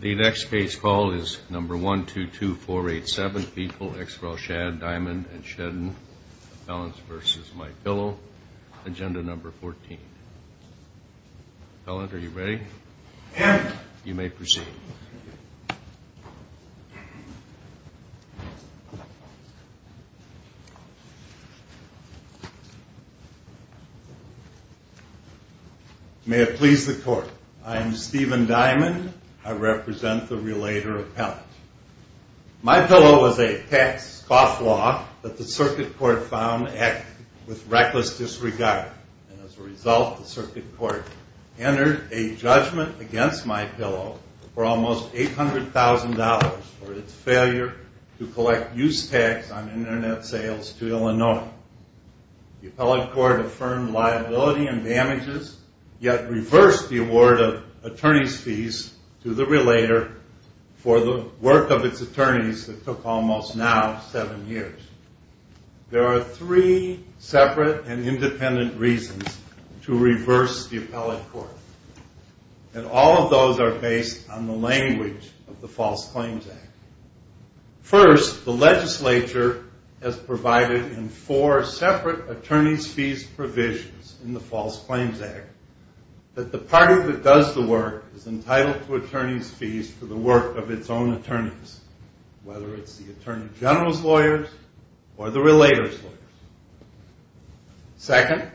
The next case call is No. 122487, people ex rel. Schad, Diamond & Shedden, P.C. v. My Pillow, Inc., Agenda No. 14. Fellant, are you ready? Yes. You may proceed. May it please the Court. I am Stephen Diamond. I represent the relator of Fellant. My Pillow is a tax-scoff law that the Circuit Court found with reckless disregard. And as a result, the Circuit Court entered a judgment against My Pillow for almost $800,000 for its failure to collect use tax on Internet sales to Illinois. The appellate court affirmed liability and damages, yet reversed the award of attorney's fees to the relator for the work of its attorneys that took almost now seven years. There are three separate and independent reasons to reverse the appellate court, and all of those are based on the language of the False Claims Act. First, the legislature has provided in four separate attorney's fees provisions in the False Claims Act that the party that does the work is entitled to attorney's fees for the work of its own attorneys, whether it's the Attorney General's lawyers or the relator's lawyers. Second,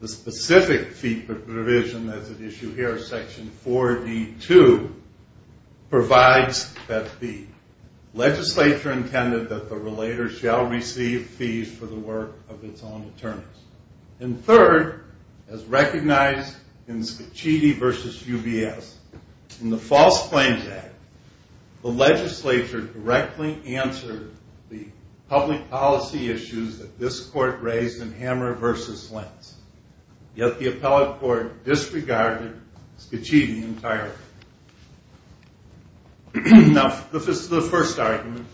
the specific fee provision that's at issue here, Section 4D2, provides that the legislature intended that the relator shall receive fees for the work of its own attorneys. And third, as recognized in Scicchiti v. UBS, in the False Claims Act, the legislature directly answered the public policy issues that this court raised in Hammer v. Lentz, yet the appellate court disregarded Scicchiti entirely. Now, this is the first argument.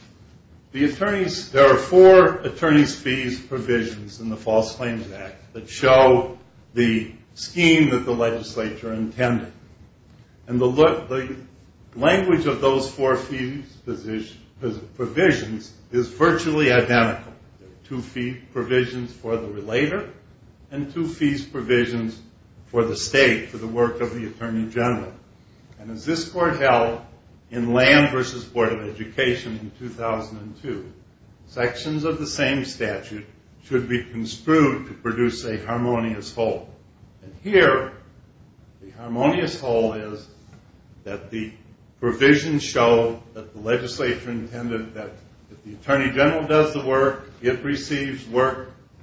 There are four attorney's fees provisions in the False Claims Act that show the scheme that the legislature intended, and the language of those four fees provisions is virtually identical. There are two fee provisions for the relator and two fees provisions for the state, for the work of the Attorney General. And as this court held in Lamb v. Board of Education in 2002, sections of the same statute should be construed to produce a harmonious whole. And here, the harmonious whole is that the provisions show that the legislature intended that if the Attorney General does the work, it receives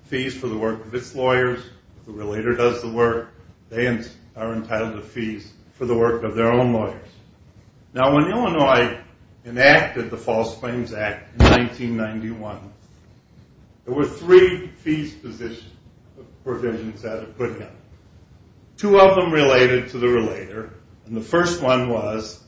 fees for the work of its lawyers. If the relator does the work, they are entitled to fees for the work of their own lawyers. Now, when Illinois enacted the False Claims Act in 1991, there were three fees provisions that it put in. Two of them related to the relator, and the first one was